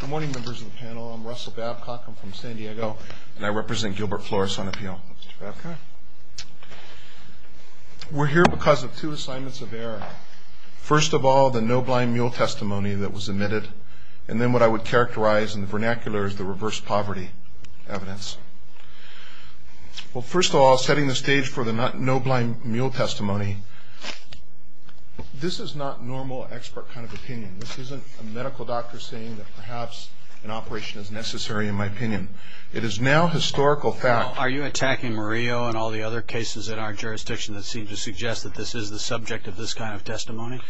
Good morning members of the panel. I'm Russell Babcock. I'm from San Diego and I represent Gilbert Flores on appeal. We're here because of two assignments of error. First of all, the no blind mule testimony that was admitted and then what I would characterize in the vernacular as the reverse poverty evidence. Well, first of all, setting the stage for the no blind mule testimony, this is not normal expert kind of opinion. This isn't a medical doctor saying that perhaps an operation is necessary in my opinion. It is now historical fact. Are you attacking Murillo and all the other cases in our jurisdiction that seem to suggest that this is the subject of this kind of testimony?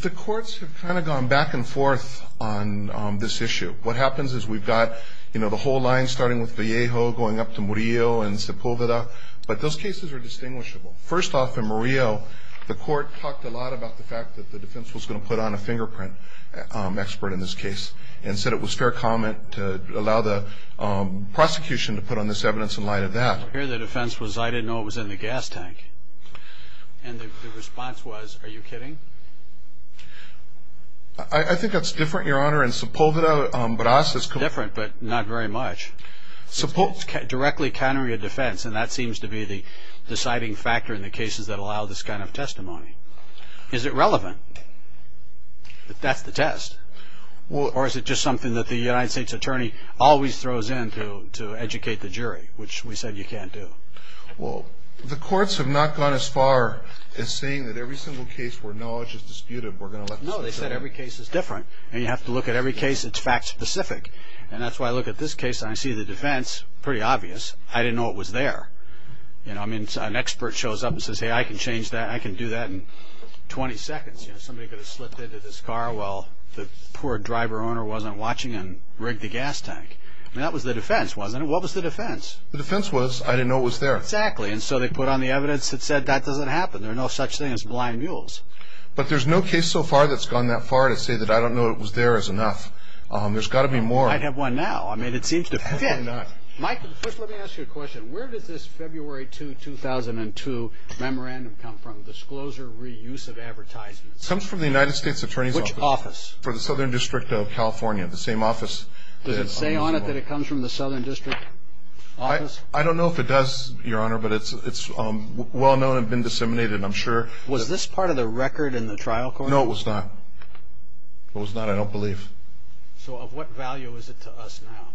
The courts have kind of gone back and forth on this issue. What happens is we've got, you know, the whole line starting with Vallejo going up to Murillo and Sepulveda, but those cases are distinguishable. First off, in Murillo, the court talked a lot about the fact that the defense was going to put on a fingerprint expert in this case and said it was fair comment to allow the prosecution to put on this evidence in light of that. Here the defense was, I didn't know it was in the gas tank. And the response was, are you kidding? I think that's different, Your Honor, in Sepulveda, but us it's... Different, but not very much. It's directly countering a defense and that seems to be the deciding factor in the cases that allow this kind of testimony. Is it relevant that that's the test? Or is it just something that the United States Attorney always throws in to educate the jury, which we said you can't do? Well, the courts have not gone as far as saying that every single case where knowledge is disputed, we're going to let the state judge... No, they said every case is different and you have to look at every case that's fact specific. And that's why I look at this case and I see the defense, pretty obvious. I didn't know it was there. I mean, an expert shows up and says, hey, I can change that. I can do that in 20 seconds. Somebody could have slipped into this car while the poor driver owner wasn't watching and rigged the gas tank. That was the defense, wasn't it? What was the defense? The defense was, I didn't know it was there. Exactly. And so they put on the evidence that said that doesn't happen. There are no such things as blind mules. But there's no case so far that's gone that far to say that I don't know it was there is enough. There's got to be more. I have one now. I mean, it seems to... Mike, first let me ask you a question. Where does this February 2, 2002 memorandum come from? Disclosure Reuse of Advertisements. It comes from the United States Attorney's Office. Which office? For the Southern District of California, the same office that... Does it say on it that it comes from the Southern District Office? I don't know if it does, Your Honor, but it's well known and been disseminated, I'm sure. Was this part of the record in the trial court? No, it was not. It was not, I don't believe. So of what value is it to us now?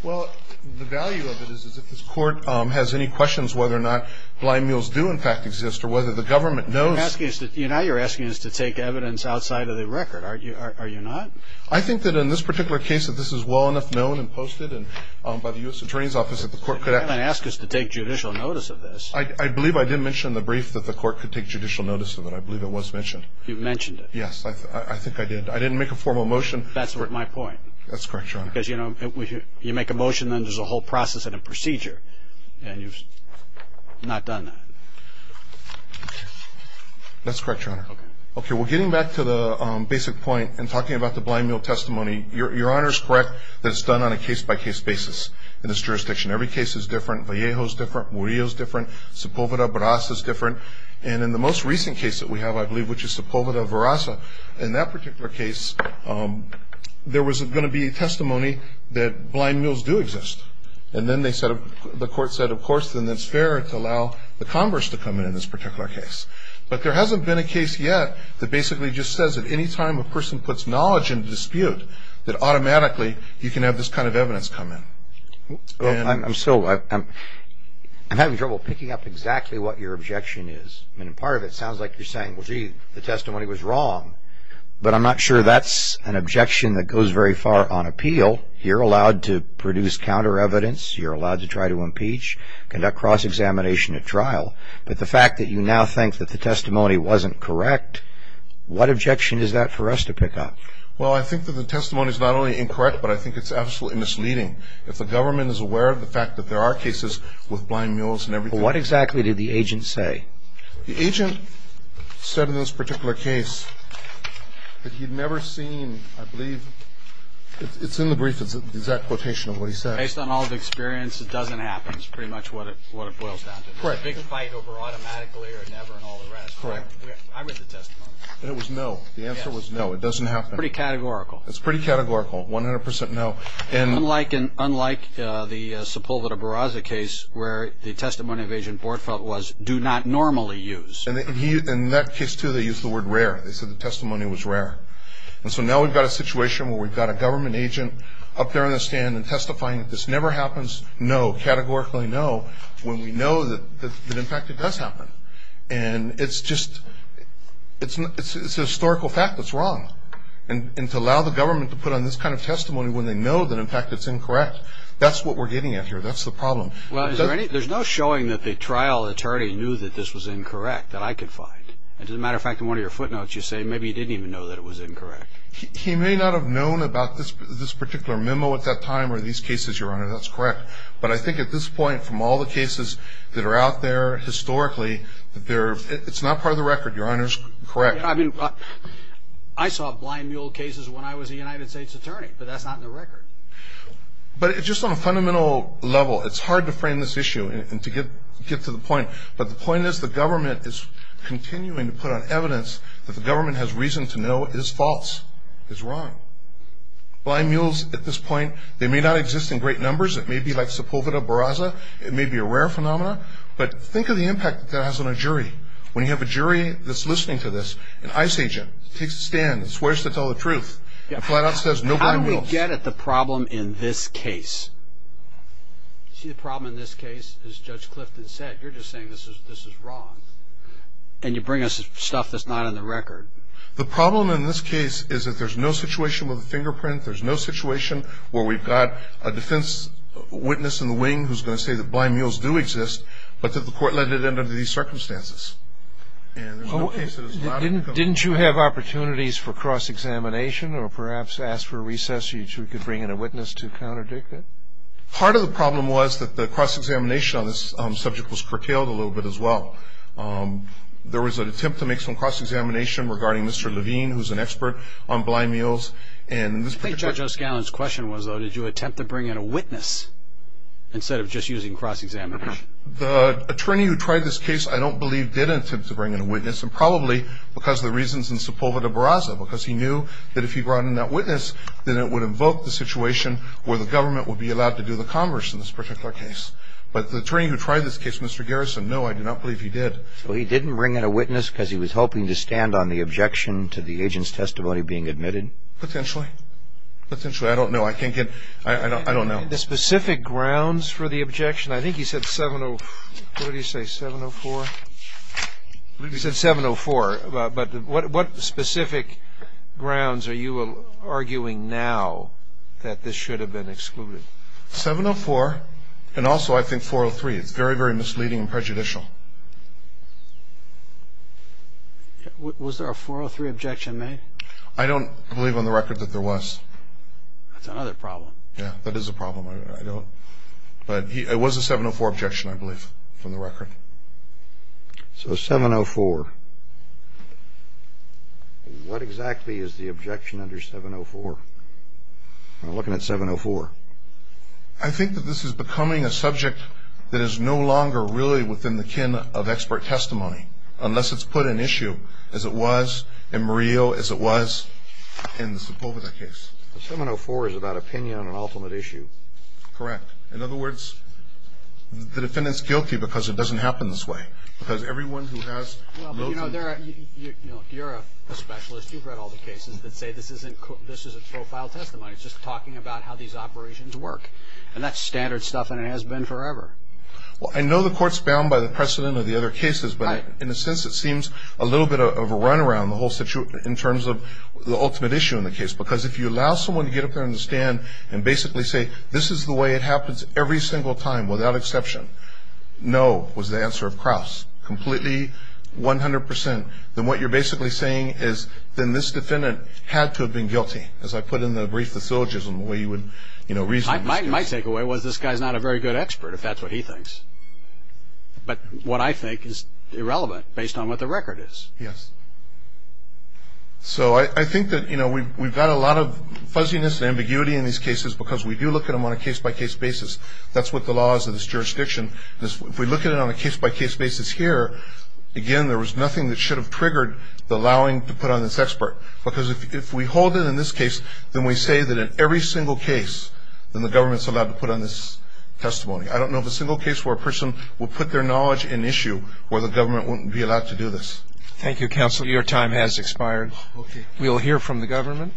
Well, the value of it is if this court has any questions whether or not blind mules do in fact exist, or whether the government knows... You're asking us to take evidence outside of the record, are you not? I think that in this particular case, if this is well enough known and posted by the U.S. Attorney's Office that the court could... You didn't ask us to take judicial notice of this. I believe I did mention in the brief that the court could take judicial notice of it. I believe it was mentioned. You mentioned it. Yes, I think I did. I didn't make a formal motion. That's my point. That's correct, Your Honor. Because, you know, if you make a motion, then there's a whole process and a procedure, and you've not done that. That's correct, Your Honor. Okay, well, getting back to the basic point and talking about the blind mule testimony, Your Honor's correct that it's done on a case-by-case basis in this jurisdiction. Every case is different. Vallejo's different. Murillo's different. Sepulveda-Varasa's different. And in the most recent case that we have, I believe, which is Sepulveda-Varasa, in that particular case, there was going to be a testimony that blind mules do exist. And then the court said, of course, then it's fair to allow the Congress to come in in this particular case. But there hasn't been a case yet that basically just says that any time a person puts knowledge into dispute, that automatically you can have this kind of evidence come in. I'm having trouble picking up exactly what your objection is. I mean, part of it sounds like you're saying, well, gee, the testimony was wrong. But I'm not sure that's an objection that goes very far on appeal. You're allowed to produce counter-evidence. You're allowed to try to impeach, conduct cross-examination at trial. But the fact that you now think that the testimony wasn't correct, what objection is that for us to pick up? Well, I think that the testimony's not only incorrect, but I think it's absolutely misleading. If the government is aware of the fact that there are cases with blind mules and everything. But what exactly did the agent say? The agent said in this particular case that he'd never seen, I believe, it's in the brief. It's the exact quotation of what he said. Based on all the experience, it doesn't happen is pretty much what it boils down to. Correct. It's a big fight over automatically or never and all the rest. Correct. I read the testimony. And it was no. The answer was no. It doesn't happen. Pretty categorical. It's pretty categorical. 100% no. Unlike the Sepulveda Barraza case where the testimony of agent Bortfeldt was do not normally use. And in that case, too, they used the word rare. They said the testimony was rare. And so now we've got a situation where we've got a government agent up there on the stand and testifying that this never happens, no, categorically no, when we know that, in fact, it does happen. And it's just a historical fact that's wrong. And to allow the government to put on this kind of testimony when they know that, in fact, it's incorrect. That's what we're getting at here. That's the problem. Well, there's no showing that the trial attorney knew that this was incorrect that I could find. As a matter of fact, in one of your footnotes, you say maybe he didn't even know that it was incorrect. He may not have known about this particular memo at that time or these cases, Your Honor. That's correct. But I think at this point, from all the cases that are out there historically, it's not part of the record. Your Honor's correct. I mean, I saw blind mule cases when I was a United States attorney, but that's not in the record. But just on a fundamental level, it's hard to frame this issue and to get to the point. But the point is the government is continuing to put on evidence that the government has reason to know it's false, it's wrong. Blind mules at this point, they may not exist in great numbers. It may be like Sepulveda Barraza. It may be a rare phenomena. But think of the impact that has on a jury. When you have a jury that's listening to this, an ICE agent takes a stand and swears to tell the truth, and flat out says no blind mules. How do we get at the problem in this case? See, the problem in this case, as Judge Clifton said, you're just saying this is wrong, and you bring us stuff that's not on the record. The problem in this case is that there's no situation with a fingerprint, there's no situation where we've got a defense witness in the wing who's going to say that blind mules do exist, but that the court let it end under these circumstances. And there's no case that it's not on the record. Didn't you have opportunities for cross-examination, or perhaps ask for a recess so you could bring in a witness to counterdict it? Part of the problem was that the cross-examination on this subject was curtailed a little bit as well. There was an attempt to make some cross-examination regarding Mr. Levine, who's an expert on blind mules. I think Judge O'Scallion's question was, though, did you attempt to bring in a witness instead of just using cross-examination? The attorney who tried this case, I don't believe, did attempt to bring in a witness, and probably because of the reasons in Sepulveda Barraza, because he knew that if he brought in that witness, then it would invoke the situation where the government would be allowed to do the converse in this particular case. But the attorney who tried this case, Mr. Garrison, no, I do not believe he did. So he didn't bring in a witness because he was hoping to stand on the objection to the agent's testimony being admitted? Potentially. Potentially, I don't know. I can't get, I don't know. The specific grounds for the objection, I think he said 70, what did he say, 704? He said 704, but what specific grounds are you arguing now that this should have been excluded? 704, and also I think 403, it's very, very misleading and prejudicial. Was there a 403 objection made? I don't believe on the record that there was. That's another problem. Yeah, that is a problem. I don't, but it was a 704 objection, I believe, from the record. So 704, what exactly is the objection under 704? We're looking at 704. I think that this is becoming a subject that is no longer really within the kin of expert testimony, unless it's put in issue as it was in Murillo, as it was in the Sepulveda case. 704 is about opinion on an ultimate issue. Correct. In other words, the defendant's guilty because it doesn't happen this way. Because everyone who has. Well, but you know, you're a specialist. You've read all the cases that say this is a profile testimony. It's just talking about how these operations work. And that's standard stuff, and it has been forever. Well, I know the court's bound by the precedent of the other cases, but in a sense, it seems a little bit of a run around the whole situation in terms of the ultimate issue in the case. Because if you allow someone to get up there on the stand and basically say, this is the way it happens every single time, without exception, no, was the answer of Krauss. Completely, 100%. Then what you're basically saying is, then this defendant had to have been guilty, as I put in the brief, the syllogism, the way you would, you know, reason. My takeaway was this guy's not a very good expert, if that's what he thinks. But what I think is irrelevant, based on what the record is. Yes. So I think that, you know, we've got a lot of fuzziness and ambiguity in these cases, because we do look at them on a case-by-case basis. That's what the law is in this jurisdiction. If we look at it on a case-by-case basis here, again, there was nothing that should have triggered the allowing to put on this expert. Because if we hold it in this case, then we say that in every single case, then the government's allowed to put on this testimony. I don't know of a single case where a person will put their knowledge in issue, where the government wouldn't be allowed to do this. Thank you, Counselor. Your time has expired. Okay. We'll hear from the government.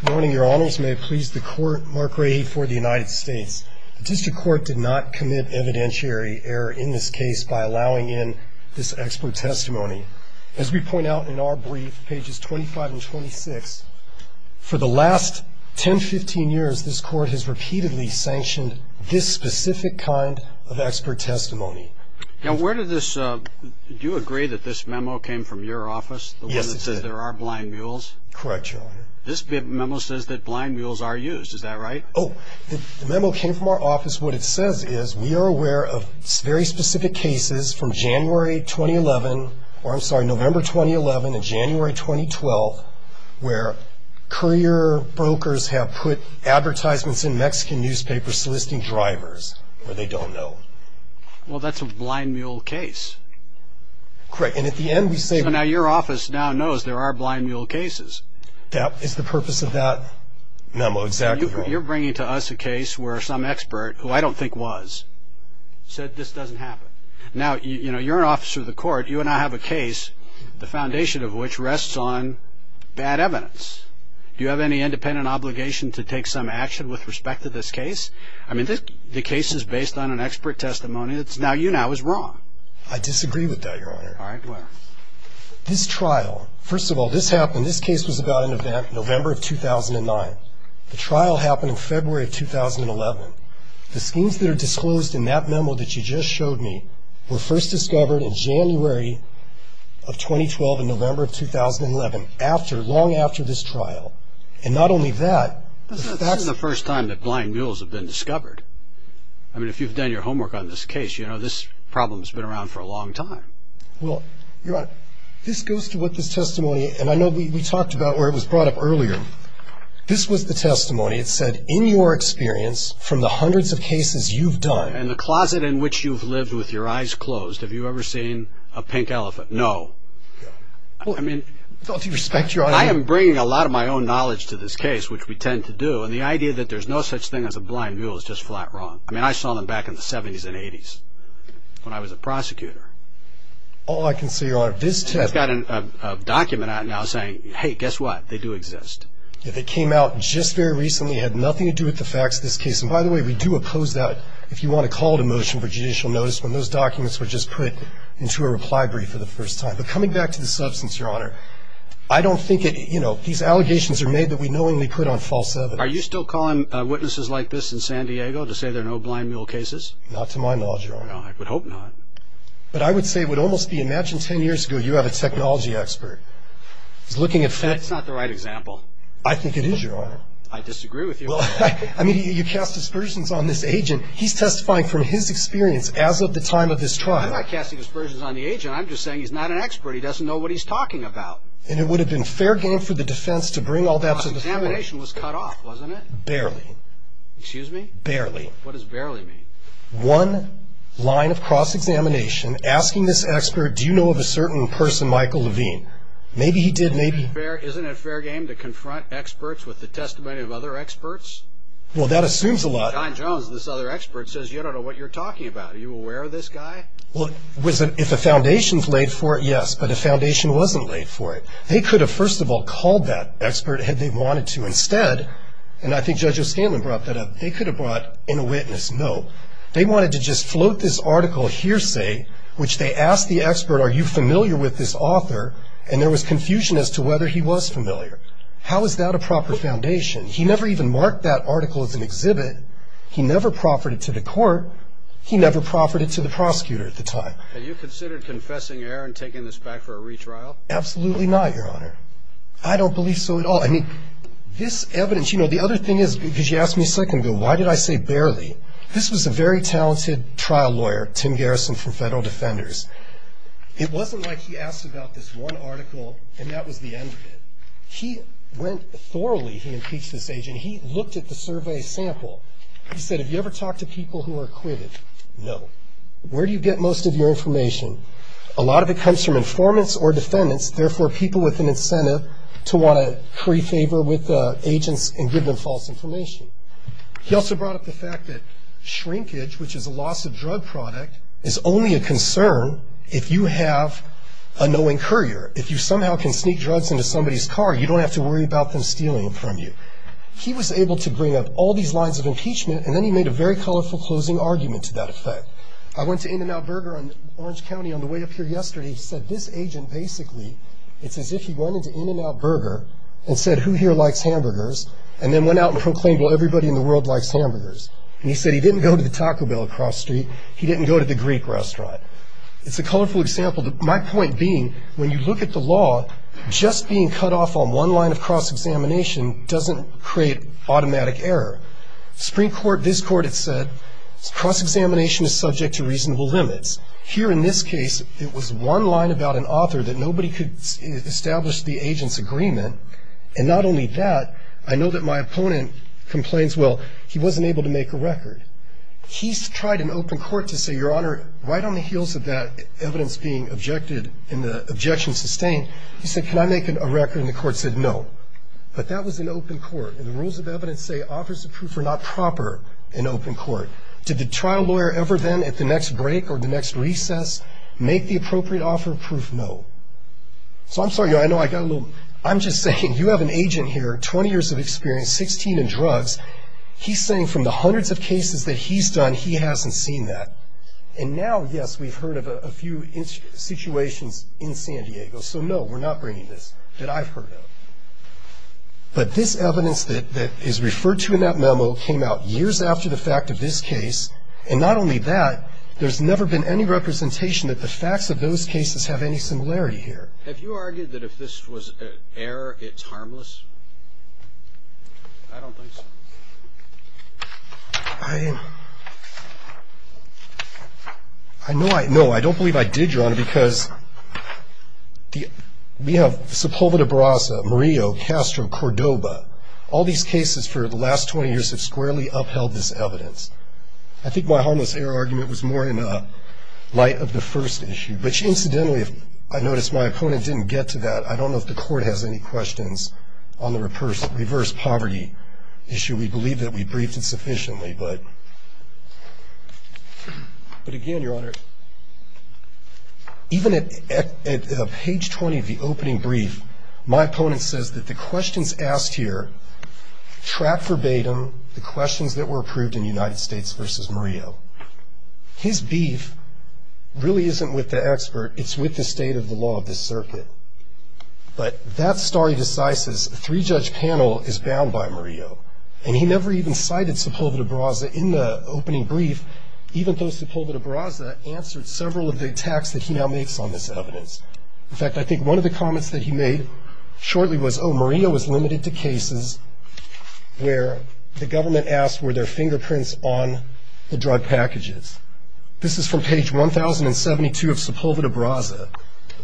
Good morning, Your Honors. May it please the Court, Mark Ray for the United States. The District Court did not commit evidentiary error in this case by allowing in this expert testimony. As we point out in our brief, pages 25 and 26, for the last 10-15 years, this Court has repeatedly sanctioned this specific kind of expert testimony. Now, where did this, do you agree that this memo came from your office? Yes, it did. The one that says there are blind mules? Correct, Your Honor. This memo says that blind mules are used, is that right? Oh, the memo came from our office. What it says is, we are aware of very specific cases from January 2011, or I'm sorry, November 2011 to January 2012, where courier brokers have put advertisements in Mexican newspapers soliciting drivers where they don't know. Well, that's a blind mule case. Correct. And at the end, we say... So now your office now knows there are blind mule cases. That is the purpose of that memo. Exactly, Your Honor. Now, you have a case where some expert, who I don't think was, said this doesn't happen. Now, you know, you're an officer of the Court. You and I have a case, the foundation of which rests on bad evidence. Do you have any independent obligation to take some action with respect to this case? I mean, the case is based on an expert testimony that's now, you know, is wrong. I disagree with that, Your Honor. All right, well... This trial, first of all, this happened, this case was about an event in November of 2009. The trial happened in February of 2011. The schemes that are disclosed in that memo that you just showed me were first discovered in January of 2012, in November of 2011, after, long after this trial. And not only that... This isn't the first time that blind mules have been discovered. I mean, if you've done your homework on this case, you know, this problem's been around for a long time. Well, Your Honor, this goes to what this testimony, and I know we talked about where it was brought up earlier. This was the testimony. It said, in your experience, from the hundreds of cases you've done... In the closet in which you've lived with your eyes closed, have you ever seen a pink elephant? No. I mean... Well, do you respect your honor? I am bringing a lot of my own knowledge to this case, which we tend to do, and the idea that there's no such thing as a blind mule is just flat wrong. I mean, I saw them back in the 70s and 80s, when I was a prosecutor. All I can say, Your Honor, this testimony... I've got a document out now saying, hey, guess what? They do exist. They came out just very recently. It had nothing to do with the facts of this case. And by the way, we do oppose that, if you want to call to motion for judicial notice, when those documents were just put into a reply brief for the first time. But coming back to the substance, Your Honor, I don't think it... You know, these allegations are made that we knowingly put on false evidence. Are you still calling witnesses like this in San Diego to say there are no blind mule cases? Not to my knowledge, Your Honor. No, I would hope not. But I would say it would almost be... He's a technology expert. He's looking at facts... That's not the right example. I think it is, Your Honor. I disagree with you. Well, I mean, you cast aspersions on this agent. He's testifying from his experience as of the time of this trial. I'm not casting aspersions on the agent. I'm just saying he's not an expert. He doesn't know what he's talking about. And it would have been fair game for the defense to bring all that to the floor. The cross-examination was cut off, wasn't it? Barely. Excuse me? Barely. One line of cross-examination, asking this expert, do you know of a certain person, Michael, who is a technology expert? Maybe he did. Maybe... Isn't it fair game to confront experts with the testimony of other experts? Well, that assumes a lot. John Jones, this other expert, says, you don't know what you're talking about. Are you aware of this guy? Well, if a foundation's laid for it, yes. But if a foundation wasn't laid for it, they could have, first of all, called that expert had they wanted to instead. And I think Judge O'Scanlan brought that up. They could have brought in a witness. No. I don't know. I don't know. I don't know. I don't know. I don't know. I don't know. Well, Judge O'Scanlan brought up the actual evidence. One article, and that was the end of it. He went thoroughly, he impeached this agent. He looked at the survey sample. He said, have you ever talked to people who are acquitted? No. Where do you get most of your information? A lot of it comes from informants or defendants, therefore people with an incentive to want to pray favor with agents and give them false information. He also brought up the fact that shrinkage, which is a loss-of-drug product, is only a can sneak drugs into somebody's car, you don't have to worry about them stealing it from you. He was able to bring up all these lines of impeachment, and then he made a very colorful closing argument to that effect. I went to In-N-Out Burger in Orange County on the way up here yesterday. He said, this agent basically, it's as if he went into In-N-Out Burger and said, who here likes hamburgers, and then went out and proclaimed, well, everybody in the world likes hamburgers. And he said, he didn't go to the Taco Bell across the street. He didn't go to the Greek restaurant. go to a place like this, if you go to a place like this, if you go to a place like this, When you look at the law, just being cut off on one line of cross-examination doesn't create automatic error. Supreme Court, this court, it said, cross-examination is subject to reasonable limits. Here in this case, it was one line about an author that nobody could establish the agent's agreement. And not only that, I know that my opponent complains, well, he wasn't able to make a record. He's tried in open court to say, Your Honor, right on the heels of that evidence being I'm going to make a record of it. I'm going to make a record of it. He said, Can I make a record? And the court said, No. But that was in open court. And the rules of evidence say offers of proof are not proper in open court. Did the trial lawyer ever then, at the next break or the next recess, make the appropriate offer of proof? No. So I'm sorry, Your Honor, I know I got a little. I'm just saying, you have an agent here, 20 years of experience, 16 in drugs. He's saying from the hundreds of cases that he's done, he hasn't seen that. And now, yes, we've heard of a few situations in San Diego. So, no, we're not bringing this that I've heard of. But this evidence that is referred to in that memo came out years after the fact of this case. And not only that, there's never been any representation that the facts of those cases have any similarity here. Have you argued that if this was an error, it's harmless? I don't think so. I know I know. I don't believe I did, Your Honor, because we have Sepulveda, Barasa, Murillo, Castro, Cordoba. All these cases for the last 20 years have squarely upheld this evidence. I think my harmless error argument was more in light of the first issue, which incidentally, I noticed my opponent didn't get to that. I don't know if the court has any questions on the reverse poverty issue. I mean, we believe that we briefed it sufficiently, but again, Your Honor, even at page 20 of the opening brief, my opponent says that the questions asked here track verbatim the questions that were approved in United States versus Murillo. His beef really isn't with the expert. It's with the state of the law of this circuit. But that story decides this. The pre-judge panel is bound by Murillo, and he never even cited Sepulveda, Barasa in the opening brief, even though Sepulveda, Barasa answered several of the attacks that he now makes on this evidence. In fact, I think one of the comments that he made shortly was, oh, Murillo is limited to cases where the government asks were there fingerprints on the drug packages. This is from page 1072 of Sepulveda, Barasa.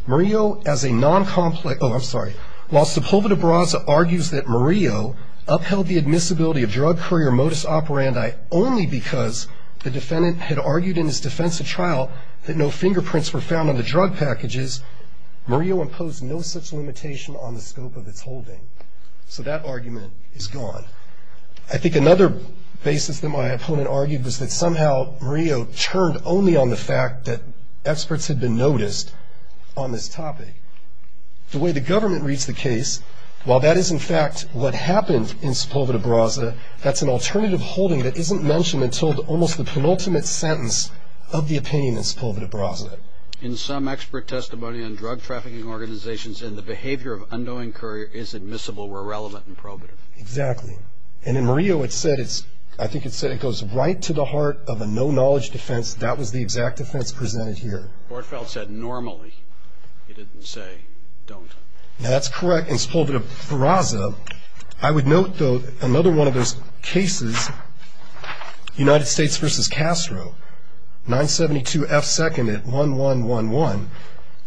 Murillo, as a noncomplex, oh, I'm sorry, while Sepulveda, Barasa argues that Murillo upheld the admissibility of drug courier modus operandi only because the defendant had argued in his defense of trial that no fingerprints were found on the drug packages, Murillo imposed no such limitation on the scope of its holding. So that argument is gone. I think another basis that my opponent argued was that somehow Murillo turned only on the fact that experts had been noticed on this topic. The way the government reads the case, while that is in fact what happened in Sepulveda, Barasa, that's an alternative holding that isn't mentioned until almost the penultimate sentence of the opinion in Sepulveda, Barasa. In some expert testimony on drug trafficking organizations, and the behavior of unknowing courier is admissible where relevant and probative. Exactly, and in Murillo it said, I think it said it goes right to the heart of a no-knowledge defense. That was the exact defense presented here. Bordfeldt said normally, he didn't say don't. That's correct in Sepulveda, Barasa. I would note, though, another one of those cases, United States v. Castro, 972 F. 2nd at 1111,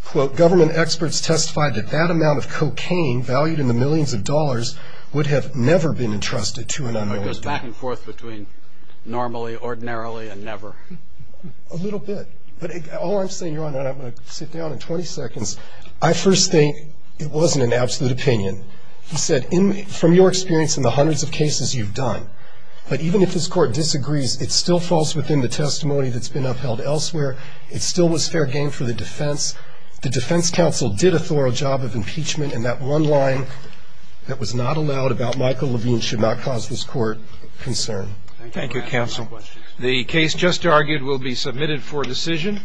quote, government experts testified that that amount of cocaine valued in the millions of dollars was not allowed to be consumed. It goes back and forth between normally, ordinarily, and never. A little bit, but all I'm saying, Your Honor, and I'm going to sit down in 20 seconds, I first think it wasn't an absolute opinion. He said, from your experience in the hundreds of cases you've done, but even if this Court disagrees, it still falls within the testimony that's been upheld elsewhere. It still was fair game for the defense. The defense counsel did a thorough job of impeachment, and that one line that was not allowed about Michael Levine should not cause this Court concern. Thank you, counsel. The case just argued will be submitted for decision.